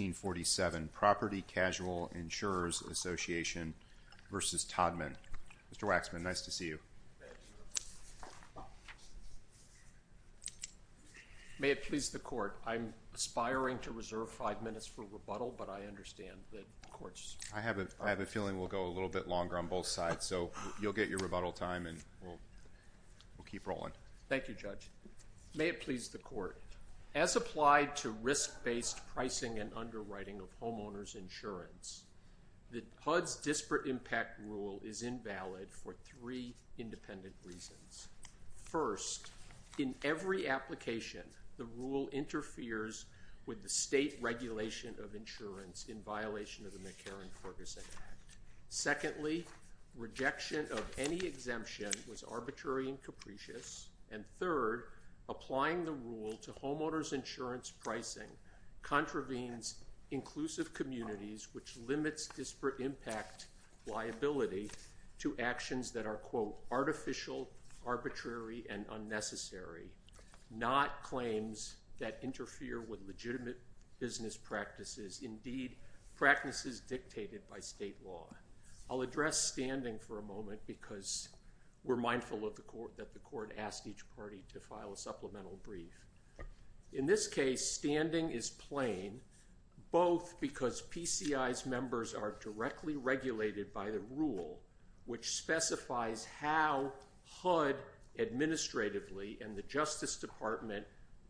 May it please the Court, I'm aspiring to reserve five minutes for rebuttal, but I understand that courts... I have a feeling we'll go a little bit longer on both sides, so you'll get your rebuttal time and we'll keep rolling. Thank you, Judge. May it please the Court, as applied to risk-based pricing and underwriting of homeowner's insurance, the HUD's disparate impact rule is invalid for three independent reasons. First, in every application, the rule interferes with the state regulation of insurance in violation of the McCarran-Cortes Act. Secondly, rejection of any exemption was arbitrary and capricious. And third, applying the rule to homeowner's insurance pricing contravenes inclusive communities, which limits disparate impact liability to actions that are, quote, artificial, arbitrary, and unnecessary, not claims that interfere with legitimate business practices, indeed practices dictated by state law. I'll address standing for a moment because we're mindful that the Court asked each party to file a supplemental brief. In this case, standing is plain, both because PCI's members are directly regulated by the rule, which specifies how HUD administratively and the Justice Department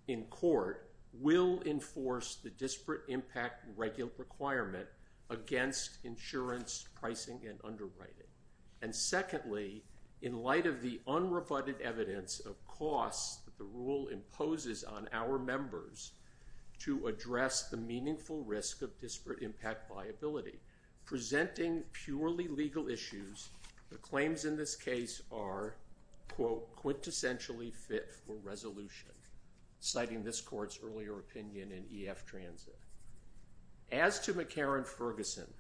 in court will enforce the disparate impact regular requirement against insurance pricing and underwriting. And secondly, in light of the unrebutted evidence of costs that the rule imposes on our members to address the meaningful risk of disparate impact liability, presenting purely legal issues, the claims in this case are, quote, quintessentially fit for resolution, citing this Court's earlier opinion in EF Transit. As to McCarran-Ferguson,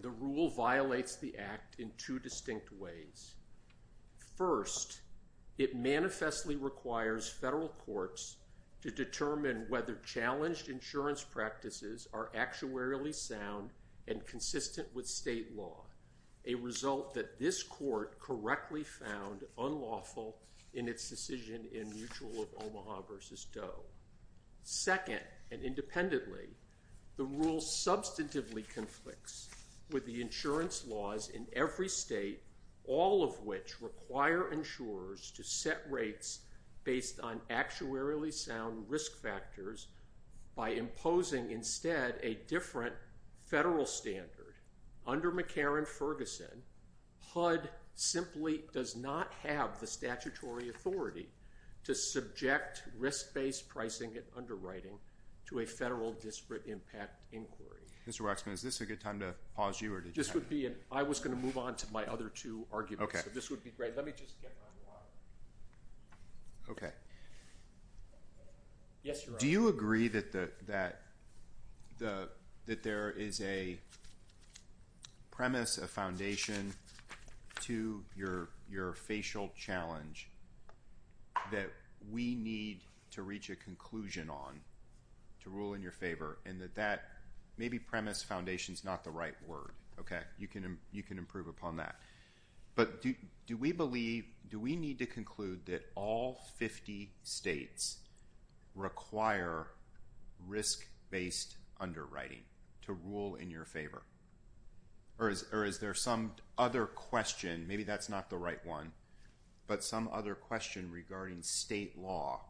the rule violates the Act in two distinct ways. First, it manifestly requires federal courts to determine whether challenged insurance practices are actuarially sound and consistent with state law, a result that this Court correctly found unlawful in its decision in Mutual of Omaha v. Doe. Second, and independently, the rule substantively conflicts with the insurance laws in every state, all of which require insurers to set rates based on actuarially sound risk factors by imposing instead a different federal standard. Under McCarran-Ferguson, HUD simply does not have the statutory authority to subject risk-based pricing and underwriting to a federal disparate impact inquiry. Mr. Waxman, is this a good time to pause you, or did you have? I was going to move on to my other two arguments, so this would be great. Let me just get one more. Do you agree that there is a premise, a foundation, to your facial challenge that we need to reach a conclusion on to rule in your favor, and that maybe premise, foundation is not the right word. You can improve upon that. But do we believe, do we need to conclude that all 50 states require risk-based underwriting to rule in your favor, or is there some other question, maybe that's not the right one, but some other question regarding state law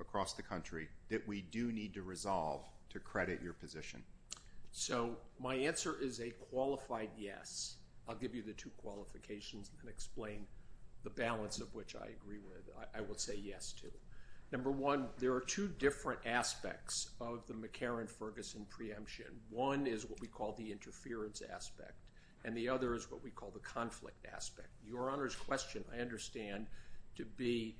across the country that we do need to resolve to credit your position? So my answer is a qualified yes. I'll give you the two qualifications and explain the balance of which I agree with. I would say yes, too. Number one, there are two different aspects of the McCarran-Ferguson preemption. One is what we call the interference aspect, and the other is what we call the conflict aspect. Your Honor's question, I understand, to be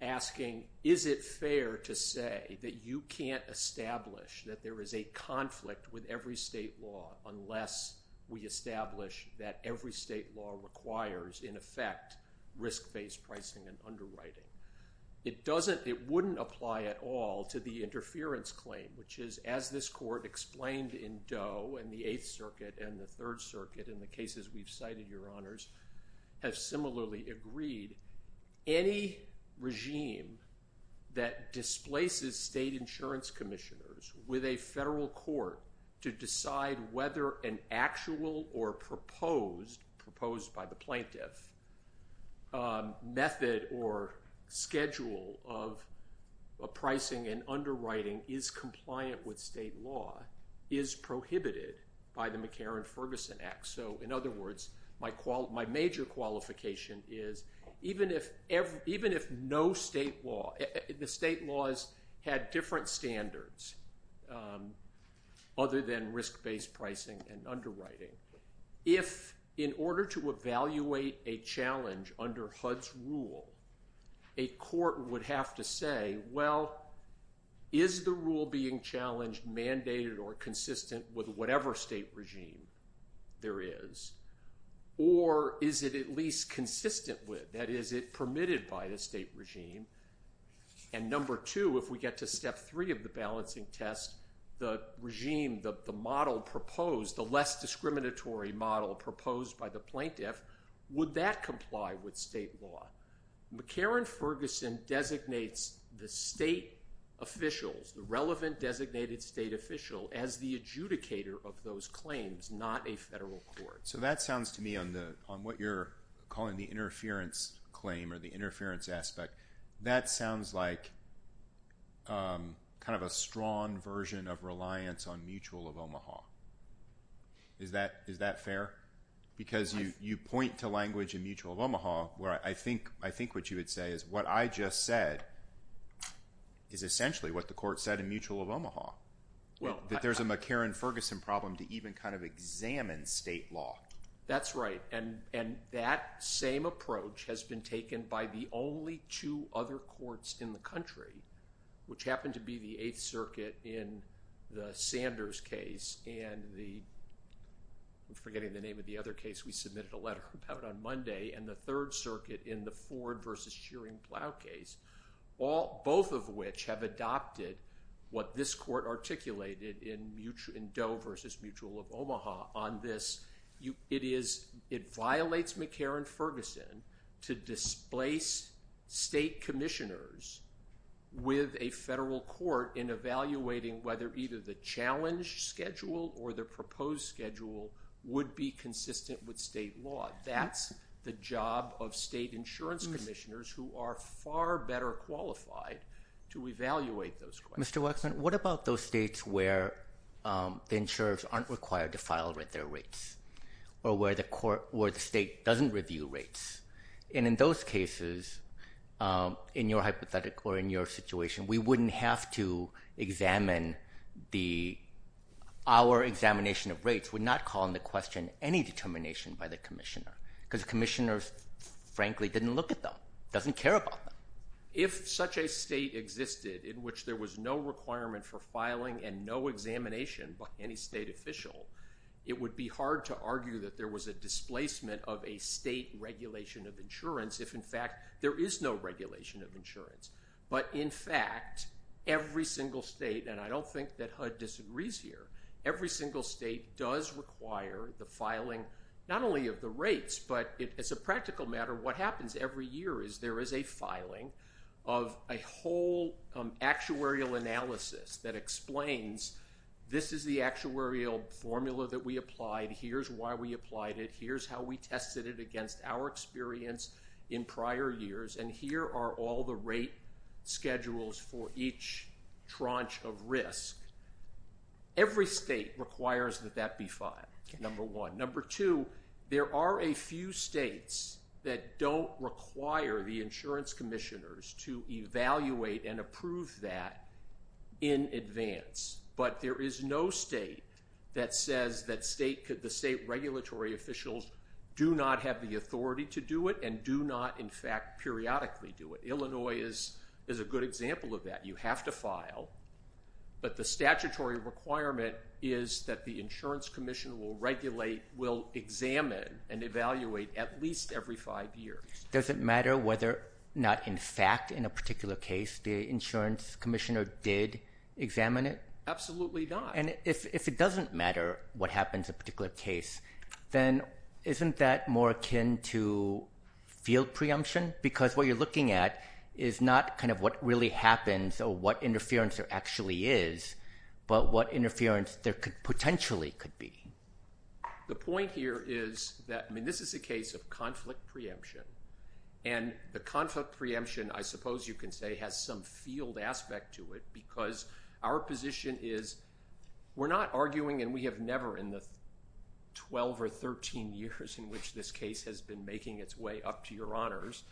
asking, is it fair to say that you can't establish that there is a conflict with every state law unless we establish that every state law requires, in effect, risk-based pricing and underwriting? It doesn't, it wouldn't apply at all to the interference claim, which is, as this court explained in Doe and the Eighth Circuit and the Third Circuit and the cases we've cited, Your Honors, have similarly agreed. Any regime that displaces state insurance commissioners with a federal court to decide whether an actual or proposed, proposed by the plaintiff, method or schedule of pricing and underwriting is compliant with state law is prohibited by the McCarran-Ferguson Act. So, in other words, my major qualification is, even if no state law, the state laws had different standards other than risk-based pricing and underwriting, if in order to evaluate a challenge under HUD's rule, a court would have to say, well, is the rule being challenged mandated or consistent with whatever state regime there is? Or is it at least consistent with, that is, is it permitted by the state regime? And number two, if we get to step three of the balancing test, the regime, the model proposed, the less discriminatory model proposed by the plaintiff, would that comply with state law? McCarran-Ferguson designates the state officials, the relevant designated state official, as the adjudicator of those claims, not a federal court. So that sounds to me, on what you're calling the interference claim or the interference aspect, that sounds like kind of a strong version of reliance on mutual of Omaha. Is that fair? Because you point to language in mutual of Omaha, where I think what you would say is, what I just said is essentially what the court said in mutual of Omaha, that there's a McCarran-Ferguson problem to even kind of examine state law. That's right. And that same approach has been taken by the only two other courts in the country, which happen to be the Eighth Circuit in the Sanders case and the, I'm forgetting the name of the other case we submitted a letter about on Monday, and the Third Circuit in the Ford versus Shearing Plow case, both of which have adopted what this court articulated in Doe versus Mutual of Omaha on this, it violates McCarran-Ferguson to displace state commissioners with a federal court in evaluating whether either the challenge schedule or the proposed schedule would be consistent with state law. That's the job of state insurance commissioners who are far better qualified to evaluate those claims. Mr. Wexler, what about those states where the insurers aren't required to file with their rates or where the state doesn't review rates? And in those cases, in your hypothetical or in your situation, we wouldn't have to examine the, our examination of rates would not call into question any determination by the commissioner because commissioners frankly didn't look at them, doesn't care about them. If such a state existed in which there was no requirement for filing and no examination by any state official, it would be hard to argue that there was a displacement of a state regulation of insurance if in fact there is no regulation of insurance. But in fact, every single state, and I don't think that HUD disagrees here, every single state does require the filing, not only of the rates, but as a practical matter, what happens every year is there is a filing of a whole actuarial analysis that explains, this is the actuarial formula that we applied, here's why we applied it, here's how we tested it against our experience in prior years, and here are all the rate schedules for each tranche of risk. Every state requires that that be filed, number one. Number two, there are a few states that don't require the insurance commissioners to evaluate and approve that in advance, but there is no state that says that the state regulatory officials do not have the authority to do it and do not, in fact, periodically do it. Illinois is a good example of that. You have to file, but the statutory requirement is that the insurance commissioner will regulate, will examine, and evaluate at least every five years. Does it matter whether or not, in fact, in a particular case, the insurance commissioner did examine it? Absolutely not. If it doesn't matter what happens in a particular case, then isn't that more akin to field preemption? Because what you're looking at is not what really happens or what interference there actually is, but what interference there potentially could be. The point here is that this is a case of conflict preemption, and the conflict preemption, I We're not arguing, and we have never in the 12 or 13 years in which this case has been making its way up to your honors,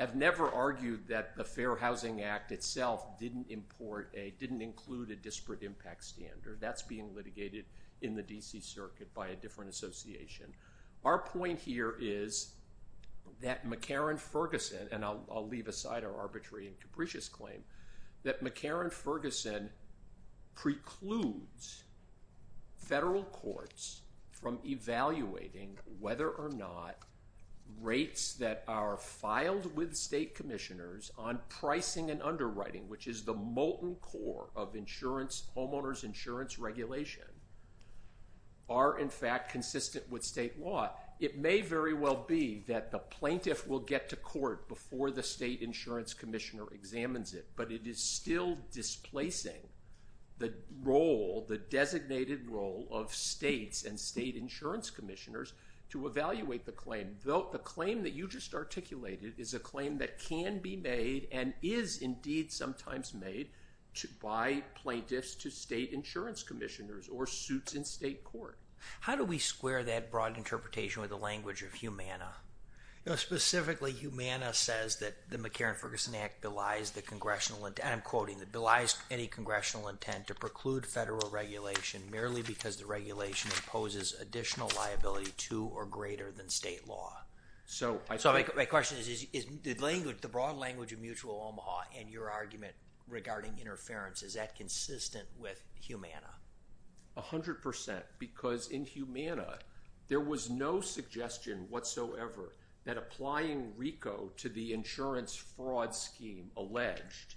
have never argued that the Fair Housing Act itself didn't import a, didn't include a disparate impact standard. That's being litigated in the D.C. Circuit by a different association. Our point here is that McCarran Ferguson, and I'll leave aside our arbitrary and capricious claim, that McCarran Ferguson precludes federal courts from evaluating whether or not rates that are filed with state commissioners on pricing and underwriting, which is the molten core of insurance, homeowners insurance regulation, are, in fact, consistent with state law. It may very well be that the plaintiff will get to court before the state insurance commissioner examines it, but it is still displacing the role, the designated role of states and state insurance commissioners to evaluate the claim. The claim that you just articulated is a claim that can be made and is indeed sometimes made by plaintiffs to state insurance commissioners or suits in state court. How do we square that broad interpretation with the language of Humana? Specifically, Humana says that the McCarran Ferguson Act belies the congressional intent, and I'm quoting, that belies any congressional intent to preclude federal regulation merely because the regulation imposes additional liability to or greater than state law. So my question is, is the broad language of mutual Omaha and your argument regarding interference, is that consistent with Humana? A hundred percent, because in Humana, there was no suggestion whatsoever that applying RICO to the insurance fraud scheme alleged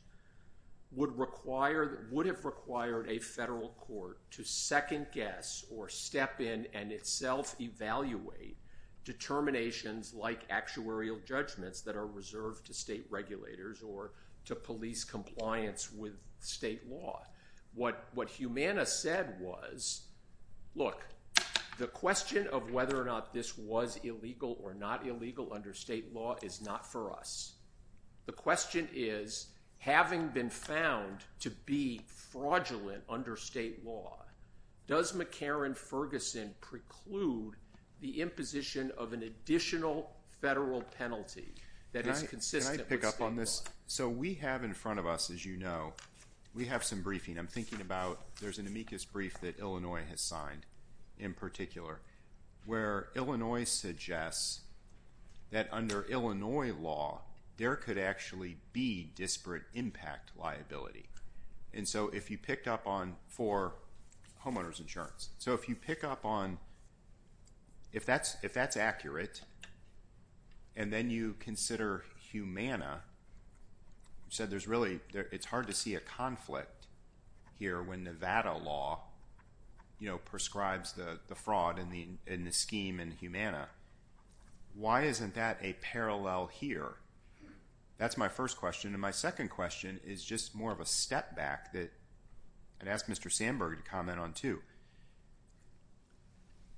would require, would have required a federal court to second guess or step in and itself evaluate determinations like actuarial judgments that are reserved to state regulators or to police compliance with state law. What, what Humana said was, look, the question of whether or not this was illegal or not illegal under state law is not for us. The question is, having been found to be fraudulent under state law, does McCarran Ferguson preclude the imposition of an additional federal penalty that is consistent with state law? Can I pick up on this? So we have in front of us, as you know, we have some briefing. I'm thinking about, there's an amicus brief that Illinois has signed in particular where Illinois suggests that under Illinois law, there could actually be disparate impact liability. And so if you picked up on, for homeowner's insurance, so if you pick up on, if that's, that's accurate, and then you consider Humana, you said there's really, it's hard to see a conflict here when Nevada law, you know, prescribes the fraud in the scheme in Humana. Why isn't that a parallel here? That's my first question. And my second question is just more of a step back that I'd ask Mr. Sandberg to comment on too.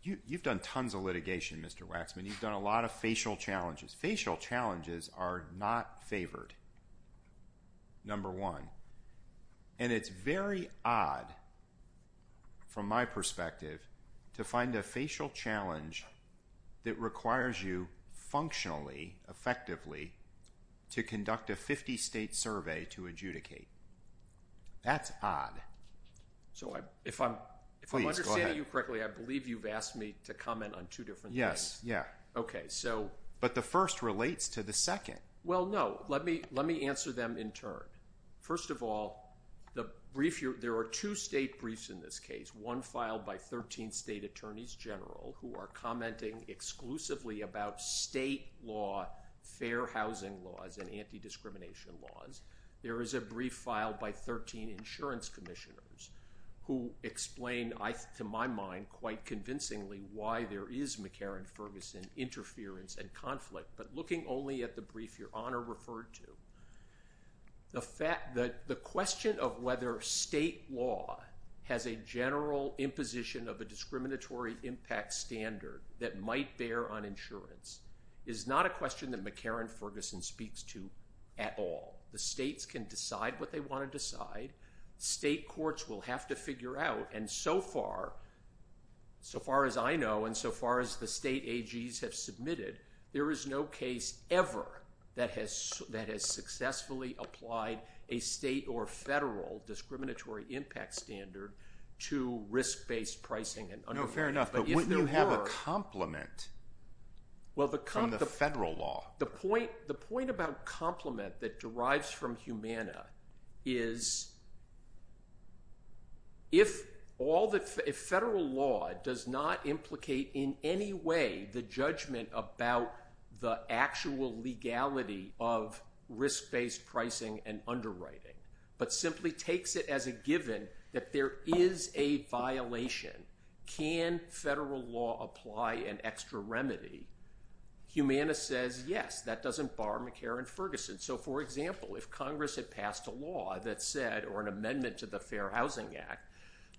You, you've done tons of litigation, Mr. Waxman, you've done a lot of facial challenges. Facial challenges are not favored, number one, and it's very odd from my perspective to find a facial challenge that requires you functionally, effectively, to conduct a 50 state survey to adjudicate. That's odd. So I, if I'm, if I'm understanding you correctly, I believe you've asked me to comment on two different things. Yeah. Okay. So. But the first relates to the second. Well, no. Let me, let me answer them in turn. First of all, the brief, there are two state briefs in this case, one filed by 13 state attorneys general who are commenting exclusively about state law, fair housing laws, and anti-discrimination laws. There is a brief filed by 13 insurance commissioners who explain, I, to my mind, quite convincingly why there is McCarran-Ferguson interference and conflict, but looking only at the brief your honor referred to, the fact that the question of whether state law has a general imposition of a discriminatory impact standard that might bear on insurance is not a question that McCarran-Ferguson speaks to at all. The states can decide what they want to decide. State courts will have to figure out. And so far, so far as I know, and so far as the state AGs have submitted, there is no case ever that has, that has successfully applied a state or federal discriminatory impact standard to risk-based pricing and underwriting. No, fair enough. But wouldn't you have a complement from the federal law? The point, the point about complement that derives from Humana is if all the, if federal law does not implicate in any way the judgment about the actual legality of risk-based pricing and underwriting, but simply takes it as a given that there is a violation, can federal law apply an extra remedy? Humana says, yes, that doesn't bar McCarran-Ferguson. So for example, if Congress had passed a law that said, or an amendment to the Fair Housing Act,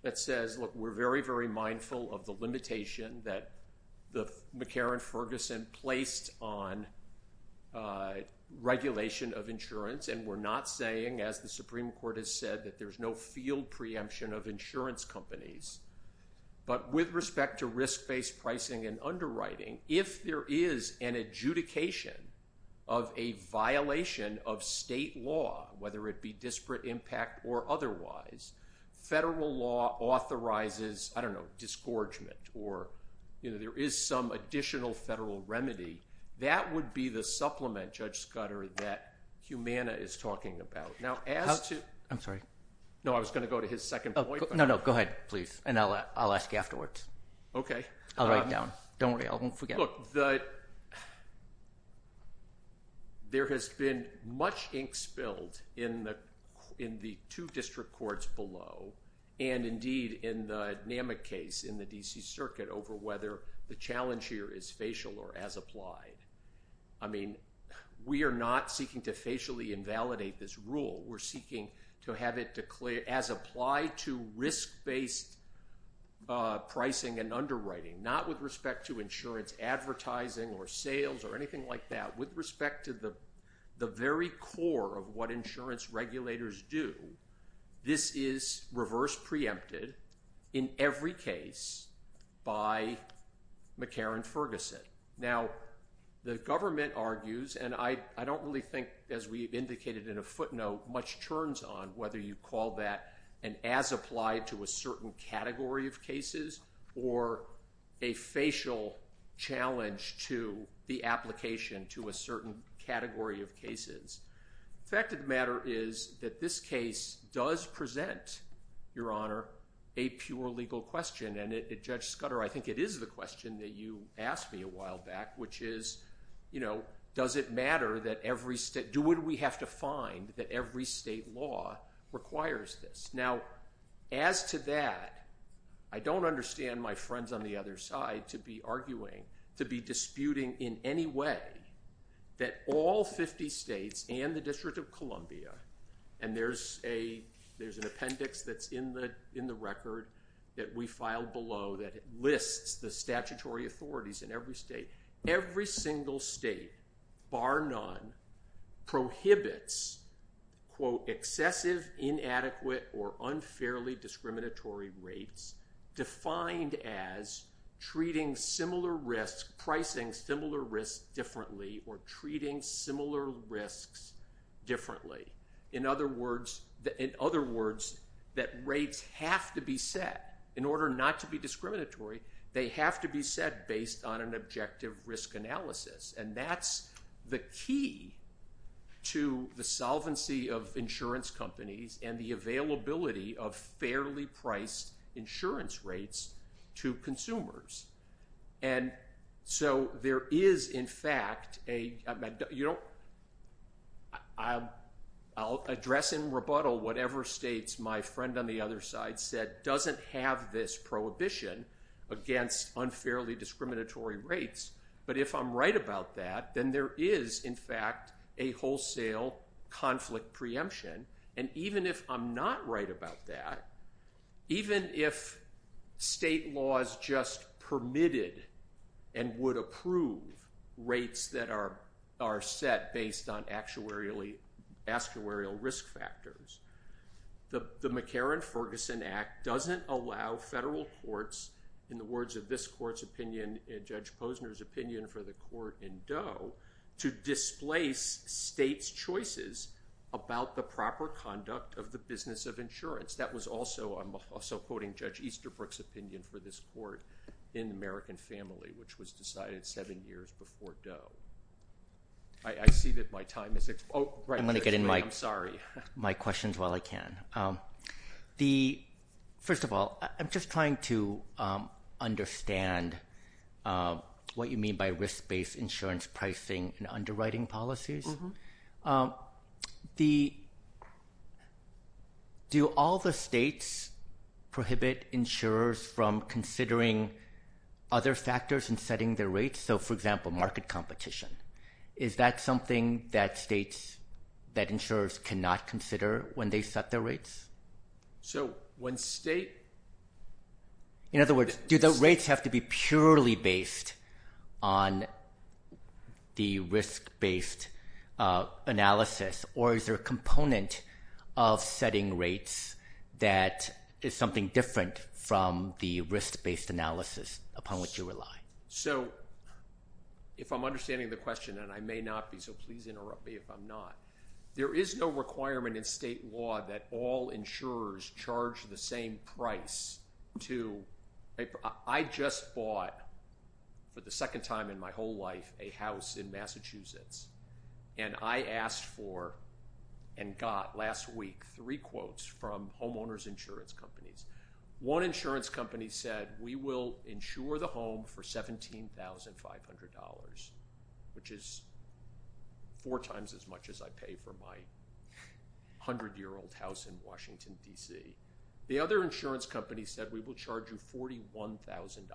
that says, look, we're very, very mindful of the limitation that the McCarran-Ferguson placed on regulation of insurance. And we're not saying, as the Supreme Court has said, that there's no field preemption of insurance companies. But with respect to risk-based pricing and underwriting, if there is an adjudication of a violation of state law, whether it be disparate impact or otherwise, federal law authorizes, I don't know, disgorgement, or, you know, there is some additional federal remedy. That would be the supplement, Judge Scudder, that Humana is talking about. Now, as to- I'm sorry. No, I was going to go to his second point. No, no. Go ahead, please. And I'll ask you afterwards. OK. I'll write it down. Don't worry. I won't forget it. Look, there has been much ink spilled in the two district courts below, and indeed, in the NAMIC case in the D.C. Circuit over whether the challenge here is facial or as applied. I mean, we are not seeking to facially invalidate this rule. We're seeking to have it declared as applied to risk-based pricing and underwriting, not with respect to insurance advertising or sales or anything like that. With respect to the very core of what insurance regulators do, this is reverse preempted in every case by McCarran-Ferguson. Now, the government argues, and I don't really think, as we have indicated in a footnote, much turns on whether you call that an as-applied-to-a-certain-category-of-cases or a facial challenge to the application to a certain category of cases. The fact of the matter is that this case does present, Your Honor, a pure legal question. And Judge Scudder, I think it is the question that you asked me a while back, which is, does it matter that every state... Do we have to find that every state law requires this? Now, as to that, I don't understand my friends on the other side to be arguing, to be disputing in any way that all 50 states and the District of Columbia, and there's an appendix that's in the record that we filed below that lists the statutory authorities in every state. Every single state, bar none, prohibits, quote, excessive, inadequate, or unfairly discriminatory rates defined as treating similar risks, pricing similar risks differently, or treating similar risks differently. In other words, that rates have to be set. In order not to be discriminatory, they have to be set based on an objective risk analysis. And that's the key to the solvency of insurance companies and the availability of fairly priced insurance rates to consumers. And so there is, in fact, a... I'll address in rebuttal whatever states my friend on the other side said doesn't have this prohibition against unfairly discriminatory rates. But if I'm right about that, then there is, in fact, a wholesale conflict preemption. And even if I'm not right about that, even if state laws just permitted and would approve rates that are set based on actuarial risk factors, the McCarran-Ferguson Act doesn't allow federal courts, in the words of this court's opinion and Judge Posner's opinion for the court in Doe, to displace states' choices about the proper conduct of the business of insurance. That was also, I'm also quoting Judge Easterbrook's opinion for this court in American Family, which was decided seven years before Doe. I see that my time is... Oh, right. I'm sorry. I'm going to get in my questions while I can. First of all, I'm just trying to understand what you mean by risk-based insurance pricing and underwriting policies. Do all the states prohibit insurers from considering other factors in setting their rates? For example, market competition. Is that something that states, that insurers cannot consider when they set their rates? So when state... In other words, do the rates have to be purely based on the risk-based analysis, or is there a component of setting rates that is something different from the risk-based analysis upon which you rely? So, if I'm understanding the question, and I may not be, so please interrupt me if I'm not, there is no requirement in state law that all insurers charge the same price to... I just bought, for the second time in my whole life, a house in Massachusetts, and I asked for, and got last week, three quotes from homeowners insurance companies. One insurance company said, we will insure the home for $17,500, which is four times as much as I pay for my 100-year-old house in Washington, D.C. The other insurance company said, we will charge you $41,000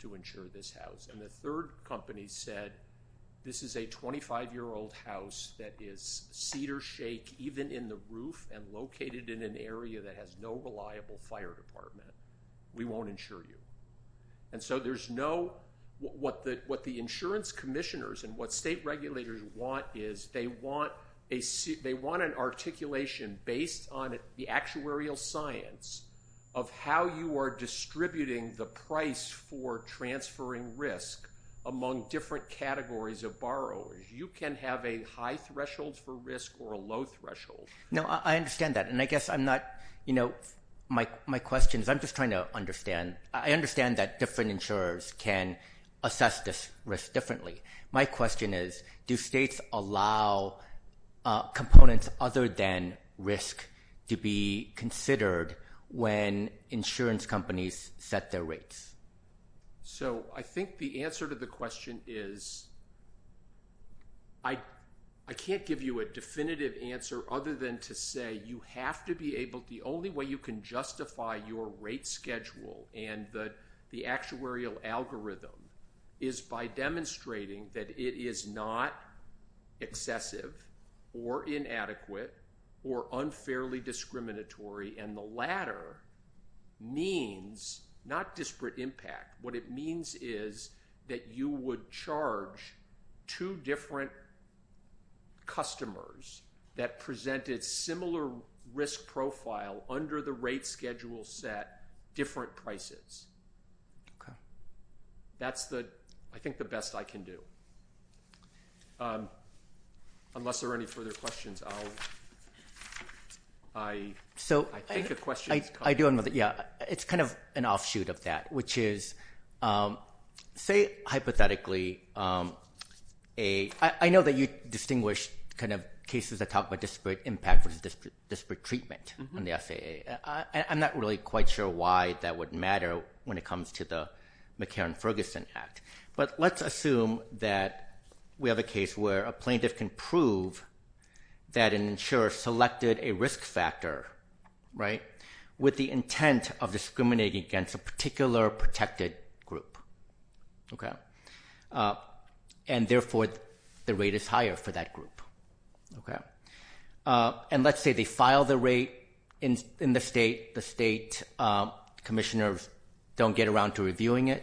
to insure this house. And the third company said, this is a 25-year-old house that is cedar-shake, even in the roof, and located in an area that has no reliable fire department. We won't insure you. And so there's no... What the insurance commissioners and what state regulators want is, they want an articulation based on the actuarial science of how you are distributing the price for transferring risk among different categories of borrowers. You can have a high threshold for risk or a low threshold. No, I understand that. And I guess I'm not... My question is, I'm just trying to understand. I understand that different insurers can assess this risk differently. My question is, do states allow components other than risk to be considered when insurance companies set their rates? So I think the answer to the question is, I can't give you a definitive answer other than to say, you have to be able... The only way you can justify your rate schedule and the actuarial algorithm is by demonstrating that it is not excessive or inadequate or unfairly discriminatory, and the latter means, not disparate impact, what it means is that you would charge two different customers that presented similar risk profile under the rate schedule set different prices. That's the, I think, the best I can do. Unless there are any further questions, I'll... I think a question is coming. It's kind of an offshoot of that, which is, say, hypothetically, a... I know that you distinguish cases that talk about disparate impact versus disparate treatment in the FAA. I'm not really quite sure why that would matter when it comes to the McCarran-Ferguson Act, but let's assume that we have a case where a plaintiff can prove that an insurer selected a risk factor with the intent of discriminating against a particular protected group, and therefore, the rate is higher for that group. Let's say they file the rate in the state, the state commissioners don't get around to reviewing it,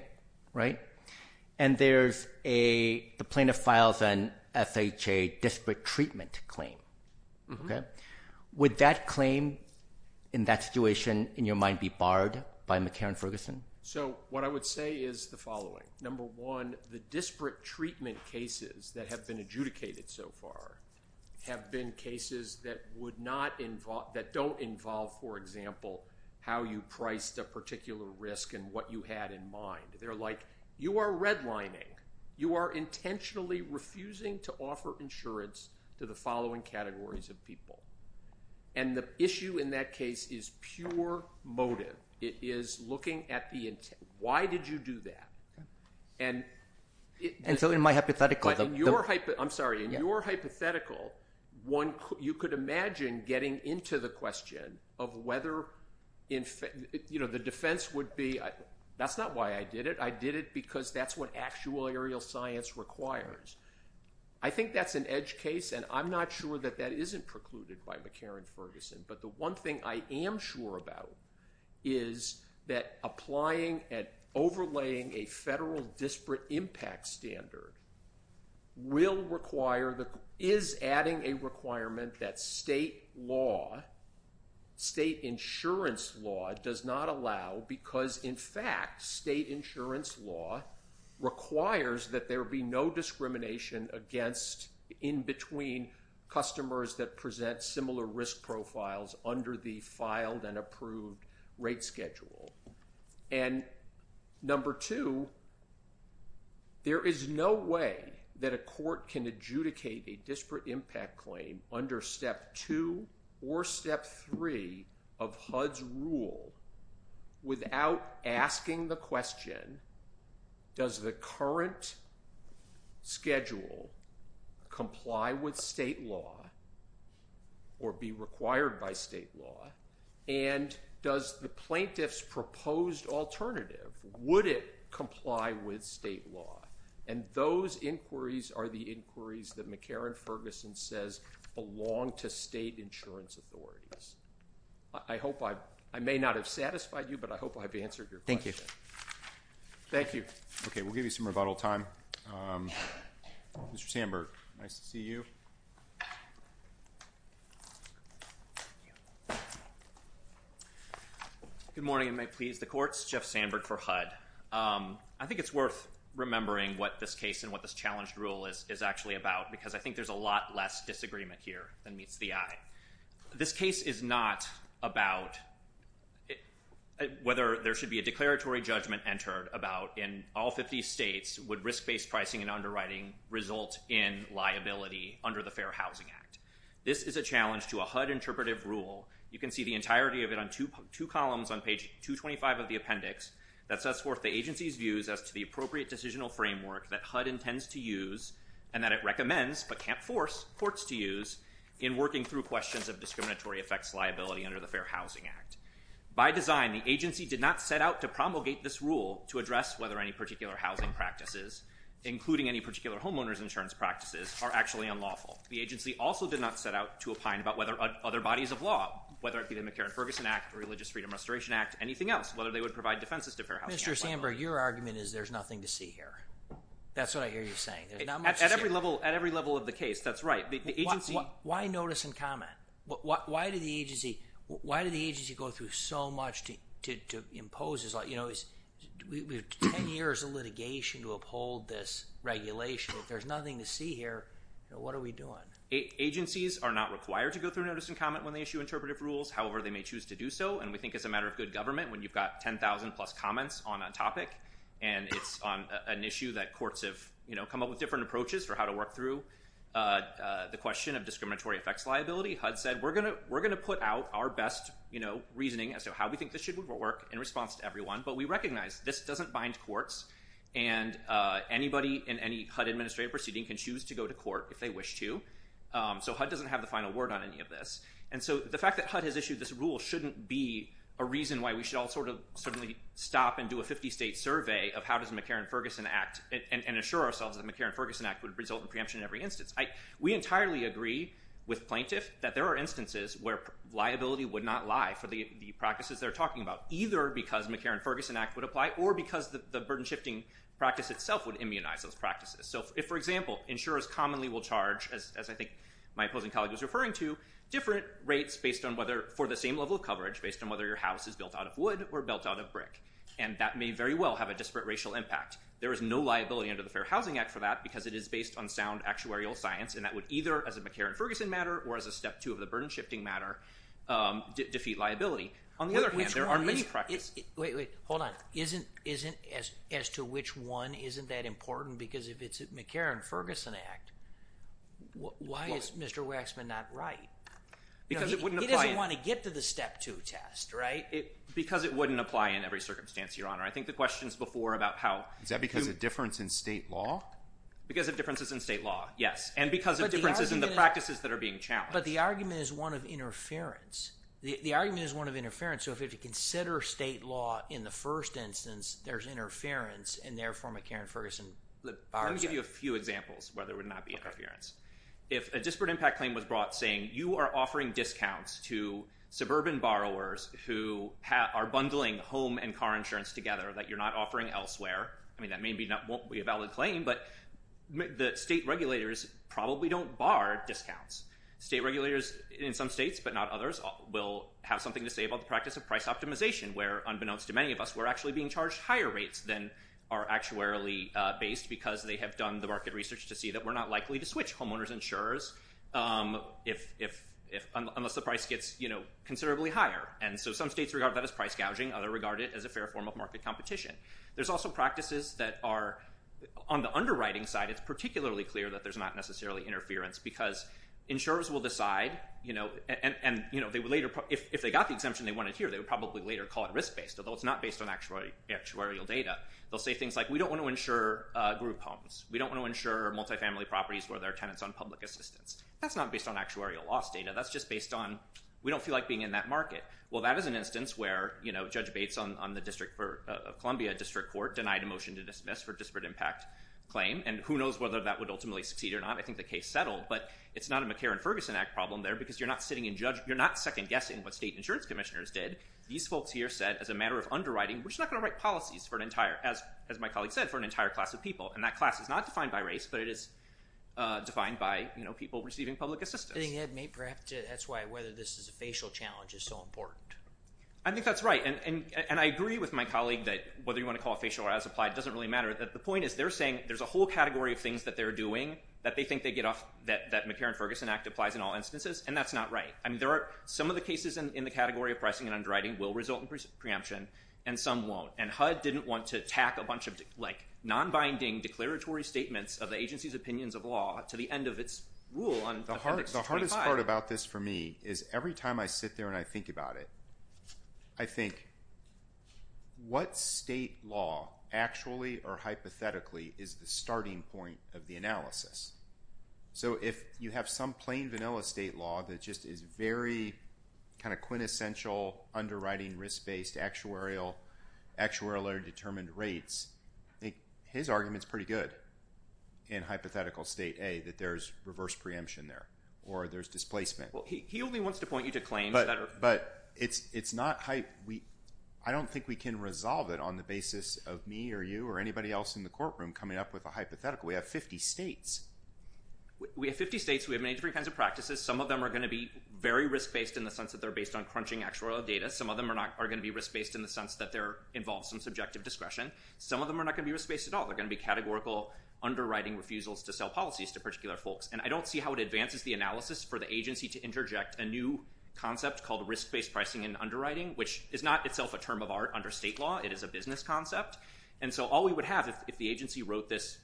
and there's a... The plaintiff files an FHA disparate treatment claim, which would that claim in that situation, in your mind, be barred by McCarran-Ferguson? What I would say is the following. Number one, the disparate treatment cases that have been adjudicated so far have been cases that would not involve... That don't involve, for example, how you priced a particular risk and what you had in mind. They're like, you are redlining. You are intentionally refusing to offer insurance to the following categories of people. The issue in that case is pure motive. It is looking at the intent. Why did you do that? In my hypothetical... I'm sorry, in your hypothetical, you could imagine getting into the question of whether... The defense would be, that's not why I did it. I did it because that's what actual aerial science requires. I think that's an edge case, and I'm not sure that that isn't precluded by McCarran-Ferguson, but the one thing I am sure about is that applying and overlaying a federal disparate impact standard will require the... Is adding a requirement that state law, state insurance law does not allow because, in fact, state insurance law requires that there be no discrimination against in between customers that present similar risk profiles under the filed and approved rate schedule. Number two, there is no way that a court can adjudicate a disparate impact claim under step two or step three of HUD's rule without asking the question, does the current schedule comply with state law or be required by state law, and does the plaintiff's proposed alternative, would it comply with state law? Those inquiries are the inquiries that McCarran-Ferguson says belong to state insurance authorities. I hope I... I may not have satisfied you, but I hope I've answered your question. Thank you. Okay. We'll give you some rebuttal time. Mr. Sandberg. Nice to see you. Good morning, if it may please the courts. Jeff Sandberg for HUD. I think it's worth remembering what this case and what this challenged rule is actually about because I think there's a lot less disagreement here than meets the eye. This case is not about whether there should be a declaratory judgment entered about in all 50 states would risk-based pricing and underwriting result in liability under the Fair Housing Act. This is a challenge to a HUD interpretive rule. You can see the entirety of it on two columns on page 225 of the appendix. That sets forth the agency's views as to the appropriate decisional framework that HUD intends to use and that it recommends but can't force courts to use in working through questions of discriminatory effects liability under the Fair Housing Act. By design, the agency did not set out to promulgate this rule to address whether any particular housing practices, including any particular homeowner's insurance practices, are actually unlawful. The agency also did not set out to opine about whether other bodies of law, whether it be the McCarran-Ferguson Act, Religious Freedom Restoration Act, anything else, whether they would provide defenses to Fair Housing Act. Mr. Samberg, your argument is there's nothing to see here. That's what I hear you saying. At every level of the case, that's right. Why notice and comment? Why did the agency go through so much to impose this? We have 10 years of litigation to uphold this regulation. If there's nothing to see here, what are we doing? Agencies are not required to go through notice and comment when they issue interpretive rules. However, they may choose to do so and we think it's a matter of good government when you've got 10,000 plus comments on a topic and it's on an issue that courts have come up with different approaches for how to work through the question of discriminatory effects liability. HUD said, we're going to put out our best reasoning as to how we think this should work in response to everyone, but we recognize this doesn't bind courts and anybody in any HUD administrative proceeding can choose to go to court if they wish to. So HUD doesn't have the final word on any of this. And so the fact that HUD has issued this rule shouldn't be a reason why we should all sort of stop and do a 50-state survey of how does the McCarran-Ferguson Act, and assure ourselves that the McCarran-Ferguson Act would result in preemption in every instance. We entirely agree with plaintiff that there are instances where liability would not lie for the practices they're talking about, either because McCarran-Ferguson Act would apply or because the burden-shifting practice itself would immunize those practices. So if, for example, insurers commonly will charge, as I think my opposing colleague was referring to, different rates based on whether, for the same level of coverage, based on whether your house is built out of wood or built out of brick. And that may very well have a disparate racial impact. There is no liability under the Fair Housing Act for that because it is based on sound actuarial science, and that would either, as a McCarran-Ferguson matter or as a step two of the burden-shifting matter, defeat liability. On the other hand, there are many practices... Wait, wait, hold on. Isn't, as to which one, isn't that important? Because if it's a McCarran-Ferguson Act, why is Mr. Waxman not right? Because it wouldn't apply... Because it wouldn't apply in every circumstance, Your Honor. I think the questions before about how... Is that because of difference in state law? Because of differences in state law, yes, and because of differences in the practices that are being challenged. But the argument is one of interference. The argument is one of interference. So if you have to consider state law in the first instance, there's interference in their form of McCarran-Ferguson borrowing. Let me give you a few examples where there would not be interference. If a disparate impact claim was brought saying, you are offering discounts to suburban borrowers who are bundling home and car insurance together that you're not offering elsewhere, I mean, that may be not... Won't be a valid claim, but the state regulators probably don't bar discounts. State regulators in some states, but not others, will have something to say about the practice of price optimization where, unbeknownst to many of us, we're actually being charged higher rates than are actuarially based because they have done the market research to see that we're not likely to switch homeowners insurers unless the price gets considerably higher And so some states regard that as price gouging, other regard it as a fair form of market competition. There's also practices that are... On the underwriting side, it's particularly clear that there's not necessarily interference because insurers will decide, and if they got the exemption they wanted here, they would probably later call it risk-based, although it's not based on actuarial data. They'll say things like, we don't want to insure group homes. We don't want to insure multifamily properties where there are tenants on public assistance. That's not based on actuarial loss data. That's just based on, we don't feel like being in that market. Well, that is an instance where Judge Bates on the District of Columbia District Court denied a motion to dismiss for disparate impact claim, and who knows whether that would ultimately succeed or not. I think the case settled, but it's not a McCarran-Ferguson Act problem there because you're not second guessing what state insurance commissioners did. These folks here said, as a matter of underwriting, we're just not going to write policies, as my colleague said, for an entire class of people. And that class is not defined by race, but it is defined by people receiving public assistance. I think that may perhaps, that's why whether this is a facial challenge is so important. I think that's right. And I agree with my colleague that whether you want to call it facial or as applied doesn't really matter. The point is they're saying there's a whole category of things that they're doing that they think they get off, that McCarran-Ferguson Act applies in all instances. And that's not right. I mean, there are some of the cases in the category of pricing and underwriting will result in preemption and some won't. And HUD didn't want to tack a bunch of like non-binding declaratory statements of the agency's opinions of law to the end of its rule on- The hardest part about this for me is every time I sit there and I think about it, I think what state law actually or hypothetically is the starting point of the analysis? So if you have some plain vanilla state law that just is very kind of quintessential underwriting risk-based actuarial or determined rates, I think his argument's pretty good in hypothetical state A that there's reverse preemption there or there's displacement. Well, he only wants to point you to claims that are- But it's not- I don't think we can resolve it on the basis of me or you or anybody else in the courtroom coming up with a hypothetical. We have 50 states. We have 50 states. We have many different kinds of practices. Some of them are going to be very risk-based in the sense that they're based on crunching actuarial data. Some of them are going to be risk-based in the sense that they involve some subjective discretion. Some of them are not going to be risk-based at all. They're going to be categorical underwriting refusals to sell policies to particular folks. And I don't see how it advances the analysis for the agency to interject a new concept called risk-based pricing and underwriting, which is not itself a term of art under state law. It is a business concept. And so all we would have if the agency wrote this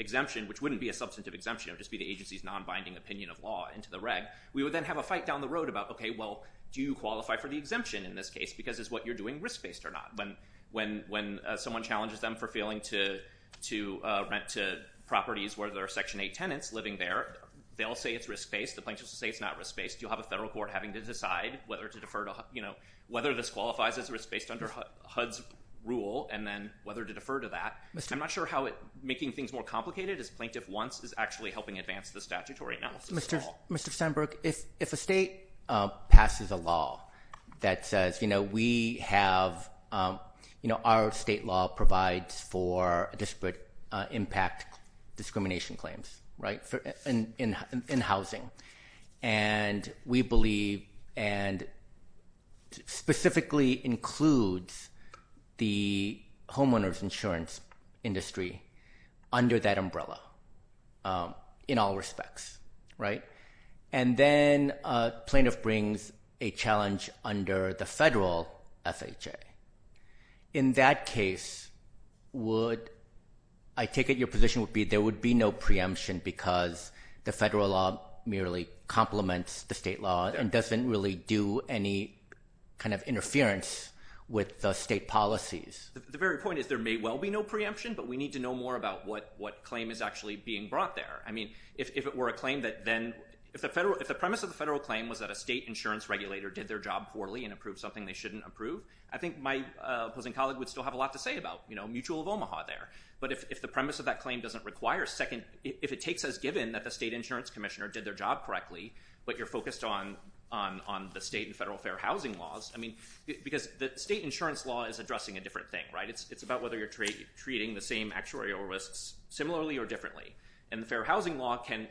exemption, which wouldn't be a substantive exemption. It would just be the agency's non-binding opinion of law into the reg, we would then have a fight down the road about, okay, well, do you qualify for the exemption in this case because it's what you're doing risk-based or not? When someone challenges them for failing to rent to properties where there are Section 8 tenants living there, they'll say it's risk-based. The plaintiffs will say it's not risk-based. You'll have a federal court having to decide whether to defer to, you know, whether this qualifies as risk-based under HUD's rule and then whether to defer to that. I'm not sure how making things more complicated, as Plaintiff wants, is actually helping advance the statutory analysis at all. Mr. Sandberg, if a state passes a law that says, you know, we have, you know, our state law provides for disparate impact discrimination claims, right, in housing. And we believe and specifically includes the homeowners insurance industry under that umbrella in all respects, right? And then Plaintiff brings a challenge under the federal FHA. In that case, would, I take it your position would be there would be no preemption because the federal law merely complements the state law and doesn't really do any kind of interference with the state policies? The very point is there may well be no preemption, but we need to know more about what claim is actually being brought there. I mean, if it were a claim that then, if the premise of the federal claim was that a state insurance regulator did their job poorly and approved something they shouldn't approve, I think my opposing colleague would still have a lot to say about, you know, mutual of Omaha there. But if the premise of that claim doesn't require second, if it takes as given that the state insurance commissioner did their job correctly, but you're focused on the state and federal fair housing laws, I mean, because the state insurance law is addressing a different thing, right? It's about whether you're treating the same actuarial risks similarly or differently. And the fair housing law can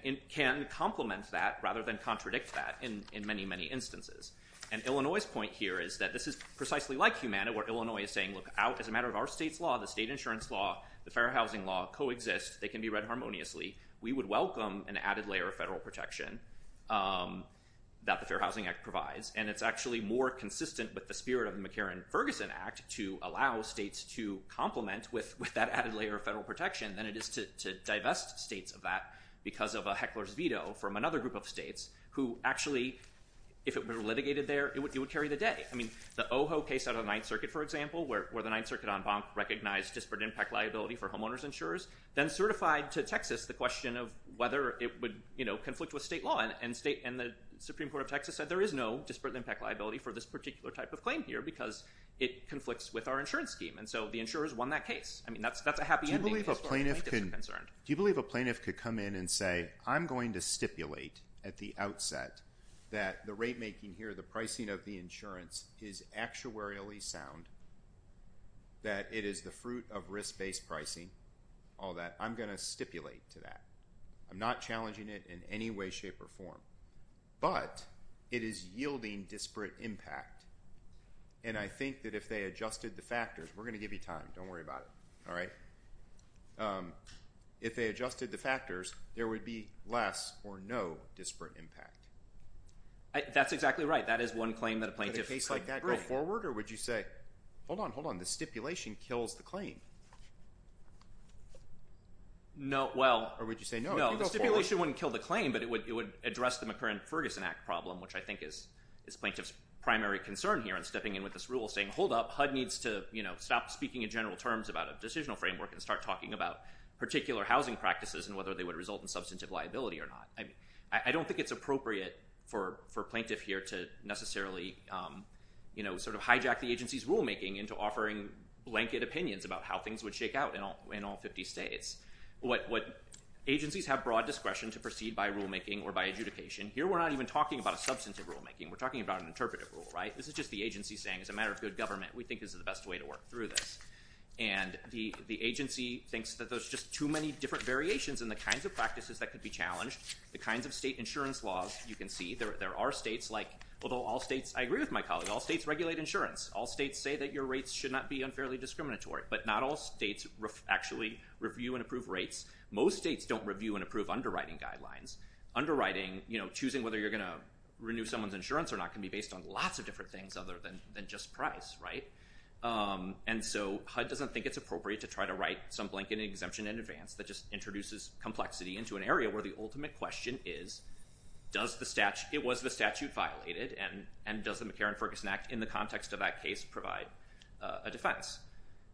complement that rather than contradict that in many, many instances. And Illinois' point here is that this is precisely like Humana, where Illinois is saying, look, as a matter of our state's law, the state insurance law, the fair housing law coexist. They can be read harmoniously. We would welcome an added layer of federal protection that the Fair Housing Act provides. And it's actually more consistent with the spirit of the McCarran-Ferguson Act to allow states to complement with that added layer of federal protection than it is to divest states of that because of a heckler's veto from another group of states who actually, if it were litigated there, it would carry the day. I mean, the Ojo case out of the Ninth Circuit, for example, where the Ninth Circuit on bonk recognized disparate impact liability for homeowners insurers, then certified to Texas the question of whether it would, you know, conflict with state law. And the Supreme Court of Texas said there is no disparate impact liability for this particular type of claim here because it conflicts with our insurance scheme. And so the insurers won that case. I mean, that's a happy ending case for our plaintiffs who are concerned. Do you believe a plaintiff could come in and say, I'm going to stipulate at the outset that the rate making here, the pricing of the insurance is actuarially sound, that it is the fruit of risk-based pricing, all that. I'm going to stipulate to that. I'm not challenging it in any way, shape, or form. But it is yielding disparate impact. And I think that if they adjusted the factors, we're going to give you time, don't worry about it, all right? If they adjusted the factors, there would be less or no disparate impact. That's exactly right. That is one claim that a plaintiff could bring. Would a case like that go forward, or would you say, hold on, hold on, the stipulation kills the claim? No, well. Or would you say, no, it could go forward. I think that's the McCurran-Ferguson Act problem, which I think is plaintiff's primary concern here in stepping in with this rule, saying, hold up, HUD needs to stop speaking in general terms about a decisional framework and start talking about particular housing practices and whether they would result in substantive liability or not. I don't think it's appropriate for a plaintiff here to necessarily hijack the agency's rulemaking into offering blanket opinions about how things would shake out in all 50 states. Agencies have broad discretion to proceed by rulemaking or by adjudication. Here we're not even talking about a substantive rulemaking, we're talking about an interpretive rule, right? This is just the agency saying, as a matter of good government, we think this is the best way to work through this. And the agency thinks that there's just too many different variations in the kinds of practices that could be challenged, the kinds of state insurance laws you can see. There are states like, although all states, I agree with my colleague, all states regulate insurance. All states say that your rates should not be unfairly discriminatory. But not all states actually review and approve rates. Most states don't review and approve underwriting guidelines. Underwriting, choosing whether you're going to renew someone's insurance or not, can be based on lots of different things other than just price, right? And so HUD doesn't think it's appropriate to try to write some blanket exemption in advance that just introduces complexity into an area where the ultimate question is, it was the statute violated and does the McCarran-Ferguson Act in the context of that case provide a defense?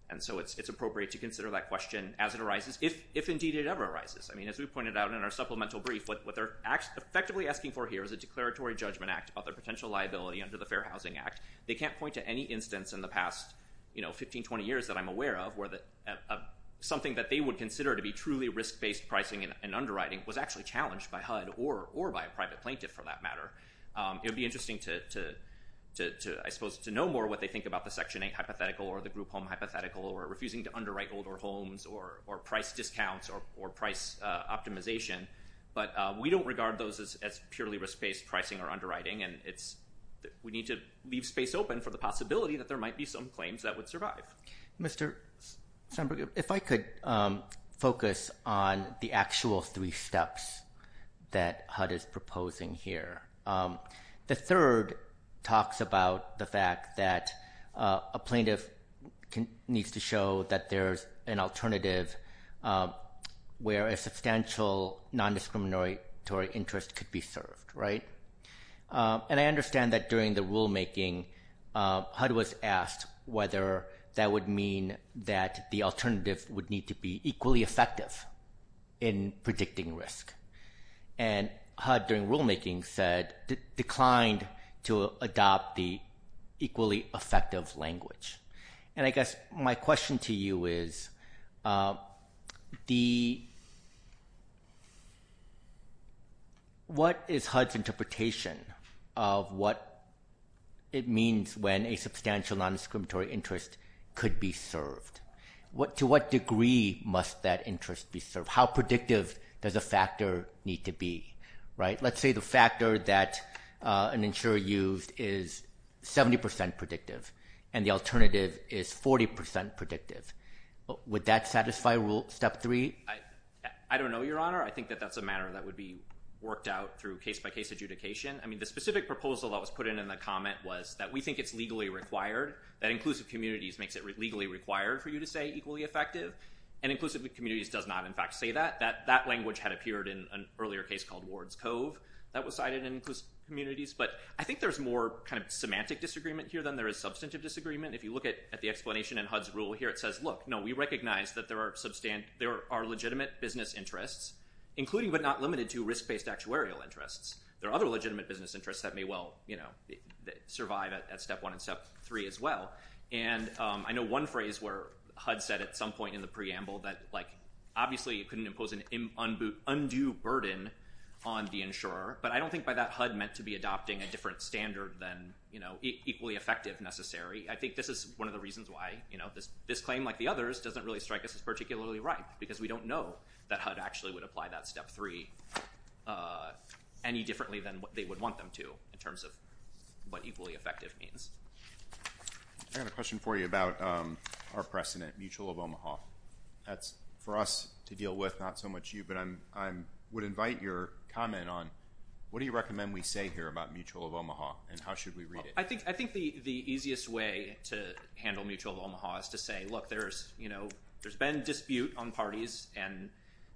And so it's appropriate to consider that question as it arises, if indeed it ever arises. I mean, as we pointed out in our supplemental brief, what they're effectively asking for here is a declaratory judgment act about their potential liability under the Fair Housing Act. They can't point to any instance in the past 15, 20 years that I'm aware of where something that they would consider to be truly risk-based pricing and underwriting was actually challenged by HUD or by a private plaintiff for that matter. It would be interesting to, I suppose, to know more what they think about the Section 8 hypothetical or the group home hypothetical or refusing to underwrite older homes or price discounts or price optimization. But we don't regard those as purely risk-based pricing or underwriting, and we need to leave space open for the possibility that there might be some claims that would survive. Mr. Sandberg, if I could focus on the actual three steps that HUD is proposing here. The third talks about the fact that a plaintiff needs to show that there's an alternative where a substantial non-discriminatory interest could be served, right? And I understand that during the rulemaking, HUD was asked whether that would mean that the alternative would need to be equally effective in predicting risk. And HUD, during rulemaking, declined to adopt the equally effective language. And I guess my question to you is, what is HUD's interpretation of what it means when a substantial non-discriminatory interest could be served? To what degree must that interest be served? How predictive does a factor need to be, right? Let's say the factor that an insurer used is 70% predictive, and the alternative is 40% predictive. Would that satisfy rule step three? I don't know, Your Honor. I think that that's a matter that would be worked out through case-by-case adjudication. I mean, the specific proposal that was put in in the comment was that we think it's legally required, that inclusive communities makes it legally required for you to say equally effective. And inclusive communities does not, in fact, say that. That language had appeared in an earlier case called Ward's Cove that was cited in inclusive communities. But I think there's more kind of semantic disagreement here than there is substantive disagreement. If you look at the explanation in HUD's rule here, it says, look, no, we recognize that there are legitimate business interests, including but not limited to risk-based actuarial interests. There are other legitimate business interests that may well survive at step one and step three as well. And I know one phrase where HUD said at some point in the preamble that, like, obviously you couldn't impose an undue burden on the insurer. But I don't think by that HUD meant to be adopting a different standard than, you know, equally effective necessary. I think this is one of the reasons why, you know, this claim like the others doesn't really strike us as particularly right because we don't know that HUD actually would apply that step three any differently than they would want them to in terms of what equally effective means. I have a question for you about our precedent, Mutual of Omaha. That's for us to deal with, not so much you, but I would invite your comment on what do you recommend we say here about Mutual of Omaha and how should we read it? I think the easiest way to handle Mutual of Omaha is to say, look, there's, you know, there's been dispute on parties and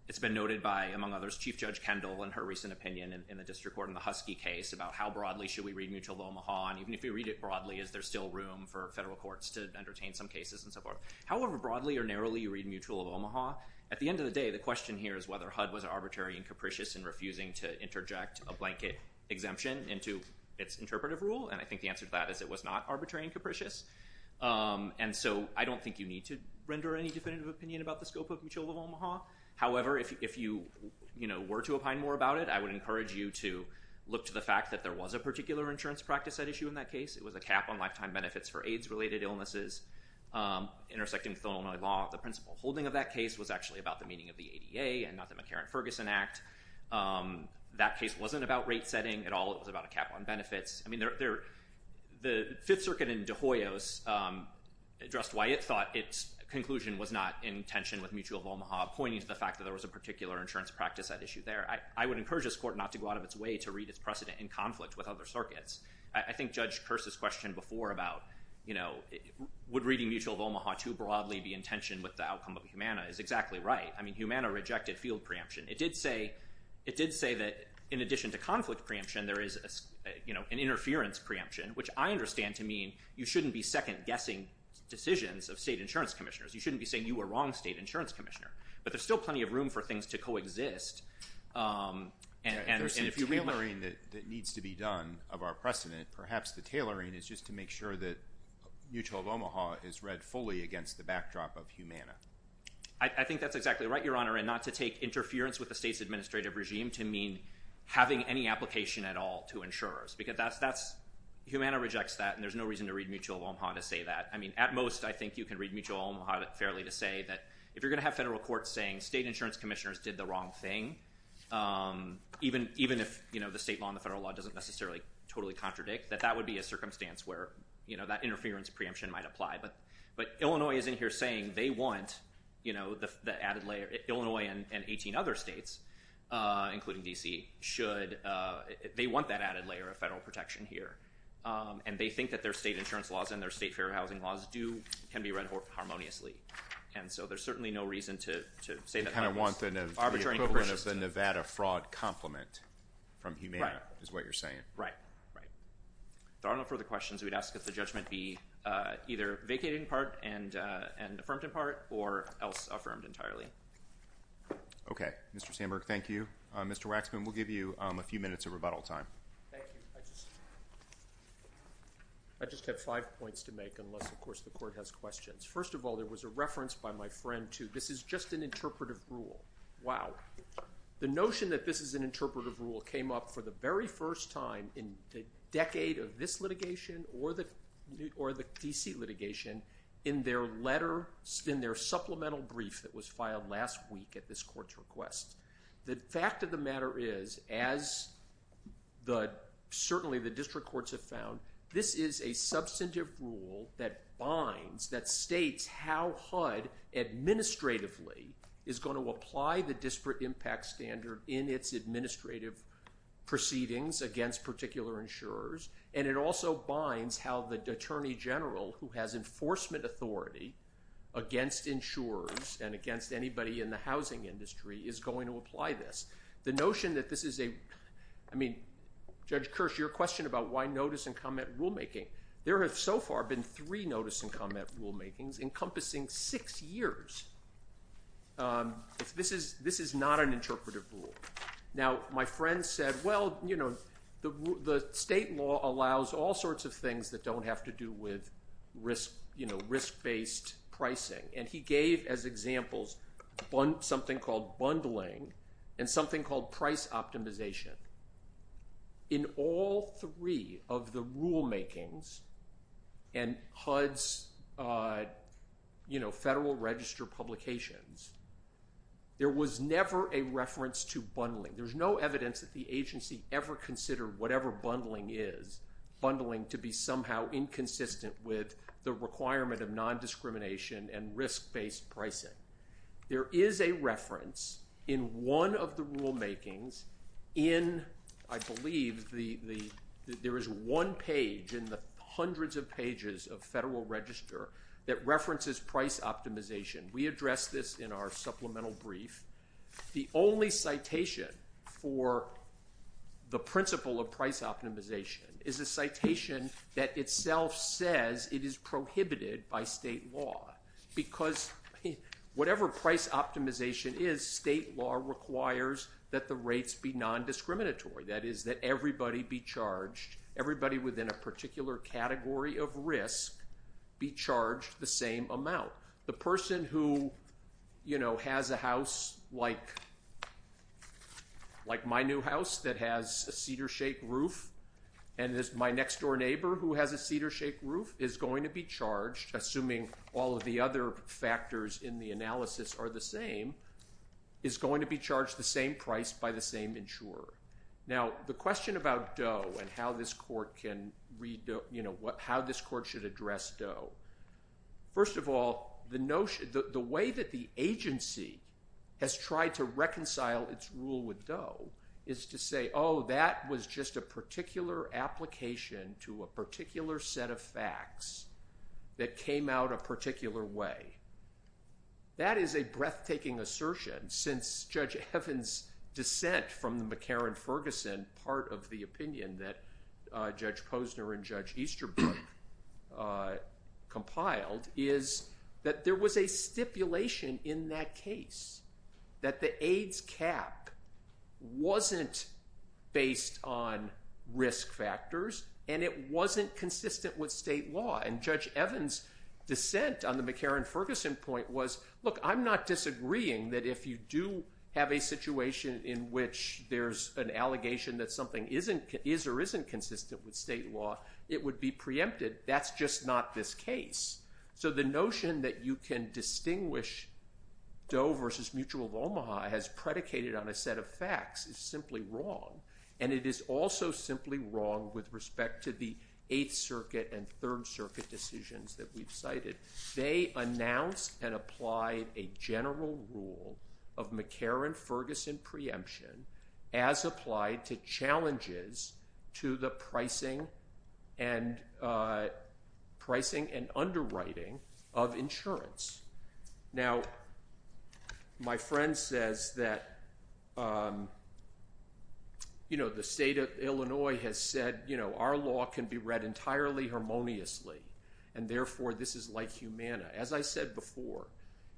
it's been noted by, among others, Chief Judge Kendall and her recent opinion in the district court in the Husky case about how broadly should we read Mutual of Omaha. And even if we read it broadly, is there still room for federal courts to entertain some cases and so forth? However broadly or narrowly you read Mutual of Omaha, at the end of the day, the question here is whether HUD was arbitrary and capricious in refusing to interject a blanket exemption into its interpretive rule. And I think the answer to that is it was not arbitrary and capricious. And so I don't think you need to render any definitive opinion about the scope of Mutual of Omaha. However, if you, you know, were to opine more about it, I would encourage you to look to the fact that there was a particular insurance practice at issue in that case. It was a cap on lifetime benefits for AIDS-related illnesses intersecting with Illinois law. The principal holding of that case was actually about the meaning of the ADA and not the McCarran-Ferguson Act. That case wasn't about rate setting at all. It was about a cap on benefits. I mean, there, there, the Fifth Circuit in De Hoyos addressed why it thought its conclusion was not in tension with Mutual of Omaha, pointing to the fact that there was a particular insurance practice at issue there. I, I would encourage this court not to go out of its way to read its precedent in conflict with other circuits. I think Judge Kearse's question before about, you know, would reading Mutual of Omaha too broadly be in tension with the outcome of Humana is exactly right. I mean, Humana rejected field preemption. It did say, it did say that in addition to conflict preemption, there is a, you know, an interference preemption, which I understand to mean you shouldn't be second guessing decisions of state insurance commissioners. You shouldn't be saying you were wrong state insurance commissioner, but there's still plenty of room for things to co-exist. Um, and, and if you're reading that, that needs to be done of our precedent, perhaps the tailoring is just to make sure that Mutual of Omaha is read fully against the backdrop of Humana. I think that's exactly right, Your Honor, and not to take interference with the state's administrative regime to mean having any application at all to insurers because that's, that's, Humana rejects that and there's no reason to read Mutual of Omaha to say that. I mean, at most, I think you can read Mutual of Omaha fairly to say that if you're going to have federal courts saying state insurance commissioners did the wrong thing, um, even, even if, you know, the state law and the federal law doesn't necessarily totally contradict that that would be a circumstance where, you know, that interference preemption might apply. But, but Illinois is in here saying they want, you know, the, the added layer, Illinois and, and 18 other states, uh, including DC should, uh, they want that added layer of federal protection here. Um, and they think that their state insurance laws and their state fair housing laws do can be read harmoniously. And so there's certainly no reason to, to say that kind of want the Nevada fraud compliment from Humana is what you're saying, right? Right. There are no further questions. We'd ask if the judgment be, uh, either vacated in part and, uh, and affirmed in part or else affirmed entirely. Okay. Mr. Sandberg, thank you. Uh, Mr. Waxman, we'll give you, um, a few minutes of rebuttal time. Thank you. I just, I just have five points to make unless of course the court has questions. First of all, there was a reference by my friend to, this is just an interpretive rule. Wow. The notion that this is an interpretive rule came up for the very first time in the decade of this litigation or the, or the DC litigation in their letter spin, their supplemental brief that was filed last week at this court's request. The fact of the matter is as the, certainly the district courts have found this is a substantive rule that binds, that states how HUD administratively is going to apply the disparate impact standard in its administrative proceedings against particular insurers. And it also binds how the attorney general who has enforcement authority against insurers and against anybody in the housing industry is going to apply this. The notion that this is a, I mean, Judge Kirsch, your question about why notice and comment rulemaking. There have so far been three notice and comment rulemakings encompassing six years. Um, if this is, this is not an interpretive rule. Now, my friend said, well, you know, the, the state law allows all sorts of things that don't have to do with risk, you know, risk based pricing. And he gave as examples something called bundling and something called price optimization. In all three of the rulemakings and HUD's, uh, you know, federal register publications, there was never a reference to bundling. There's no evidence that the agency ever considered whatever bundling is, bundling to be somehow inconsistent with the requirement of non-discrimination and risk based pricing. There is a reference in one of the rulemakings in, I believe the, the, there is one page in the hundreds of pages of federal register that references price optimization. We address this in our supplemental brief. The only citation for the principle of price optimization is a citation that itself says it is prohibited by state law because whatever price optimization is, state law requires that the rates be non-discriminatory. That is that everybody be charged, everybody within a particular category of risk be charged the same amount. The person who, you know, has a house like, like my new house that has a cedar shake roof and there's my next door neighbor who has a cedar shake roof is going to be charged, assuming all of the other factors in the analysis are the same, is going to be charged the same price by the same insurer. Now the question about Doe and how this court can read, you know, what, how this court should address Doe. First of all, the notion, the way that the agency has tried to reconcile its rule with Doe is to say, oh, that was just a particular application to a particular set of facts that came out a particular way. That is a breathtaking assertion since Judge Evans' dissent from the McCarran-Ferguson part of the opinion that Judge Posner and Judge Easterbrook compiled is that there was a stipulation in that case that the AIDS cap wasn't based on risk factors and it wasn't consistent with state law. And Judge Evans' dissent on the McCarran-Ferguson point was, look, I'm not disagreeing that if you do have a situation in which there's an allegation that something is or isn't consistent with state law, it would be preempted. That's just not this case. So the notion that you can distinguish Doe versus Mutual of Omaha as predicated on a set of facts is simply wrong. And it is also simply wrong with respect to the Eighth Circuit and Third Circuit decisions that we've cited. They announced and applied a general rule of McCarran-Ferguson preemption as applied to challenges to the pricing and underwriting of insurance. Now my friend says that the state of Illinois has said our law can be read entirely harmoniously and therefore this is like Humana. As I said before,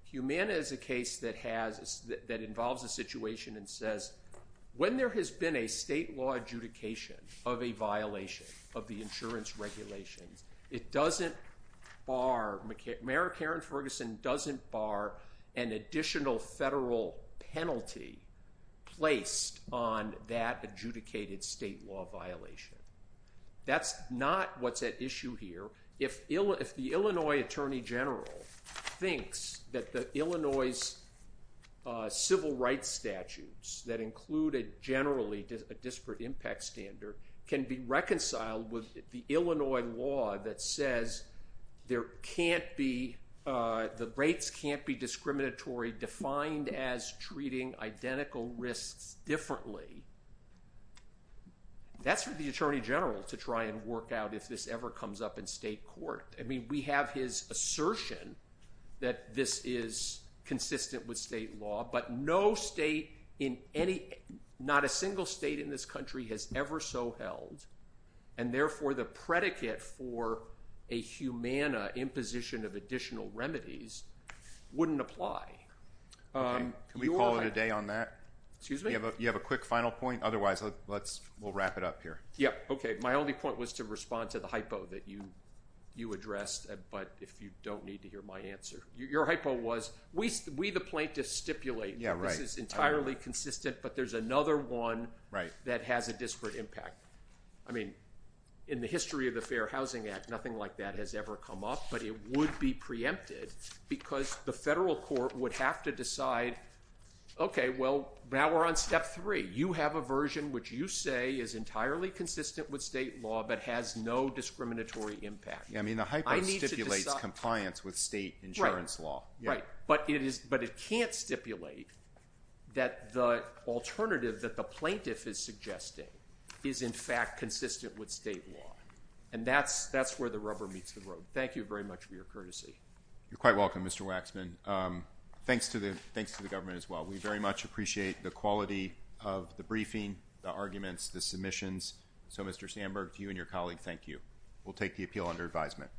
Humana is a case that involves a situation and says when there has been a state law adjudication of a violation of the insurance regulations, Mayor McCarran-Ferguson doesn't bar an additional federal penalty placed on that adjudicated state law violation. That's not what's at issue here. If the Illinois Attorney General thinks that the Illinois civil rights statutes that included generally a disparate impact standard can be reconciled with the Illinois law that says there can't be, the rates can't be discriminatory defined as treating identical risks differently, that's for the Attorney General to try and work out if this ever comes up in state court. We have his assertion that this is consistent with state law, but no state in any, not a single state in this country has ever so held and therefore the predicate for a Humana imposition of additional remedies wouldn't apply. Can we call it a day on that? Excuse me? You have a quick final point, otherwise we'll wrap it up here. Yeah, okay, my only point was to respond to the hypo that you addressed, but if you don't need to hear my answer. Your hypo was, we the plaintiffs stipulate that this is entirely consistent, but there's another one that has a disparate impact. I mean, in the history of the Fair Housing Act, nothing like that has ever come up, but it would be preempted because the federal court would have to decide, okay, well, now we're on step three. You have a version which you say is entirely consistent with state law, but has no discriminatory impact. Yeah, I mean, the hypo stipulates compliance with state insurance law. Right, but it can't stipulate that the alternative that the plaintiff is suggesting is in fact consistent with state law, and that's where the rubber meets the road. Thank you very much for your courtesy. You're quite welcome, Mr. Waxman. Thanks to the government as well. We very much appreciate the quality of the briefing, the arguments, the submissions. So Mr. Sandberg, to you and your colleague, thank you. We'll take the appeal under advisement.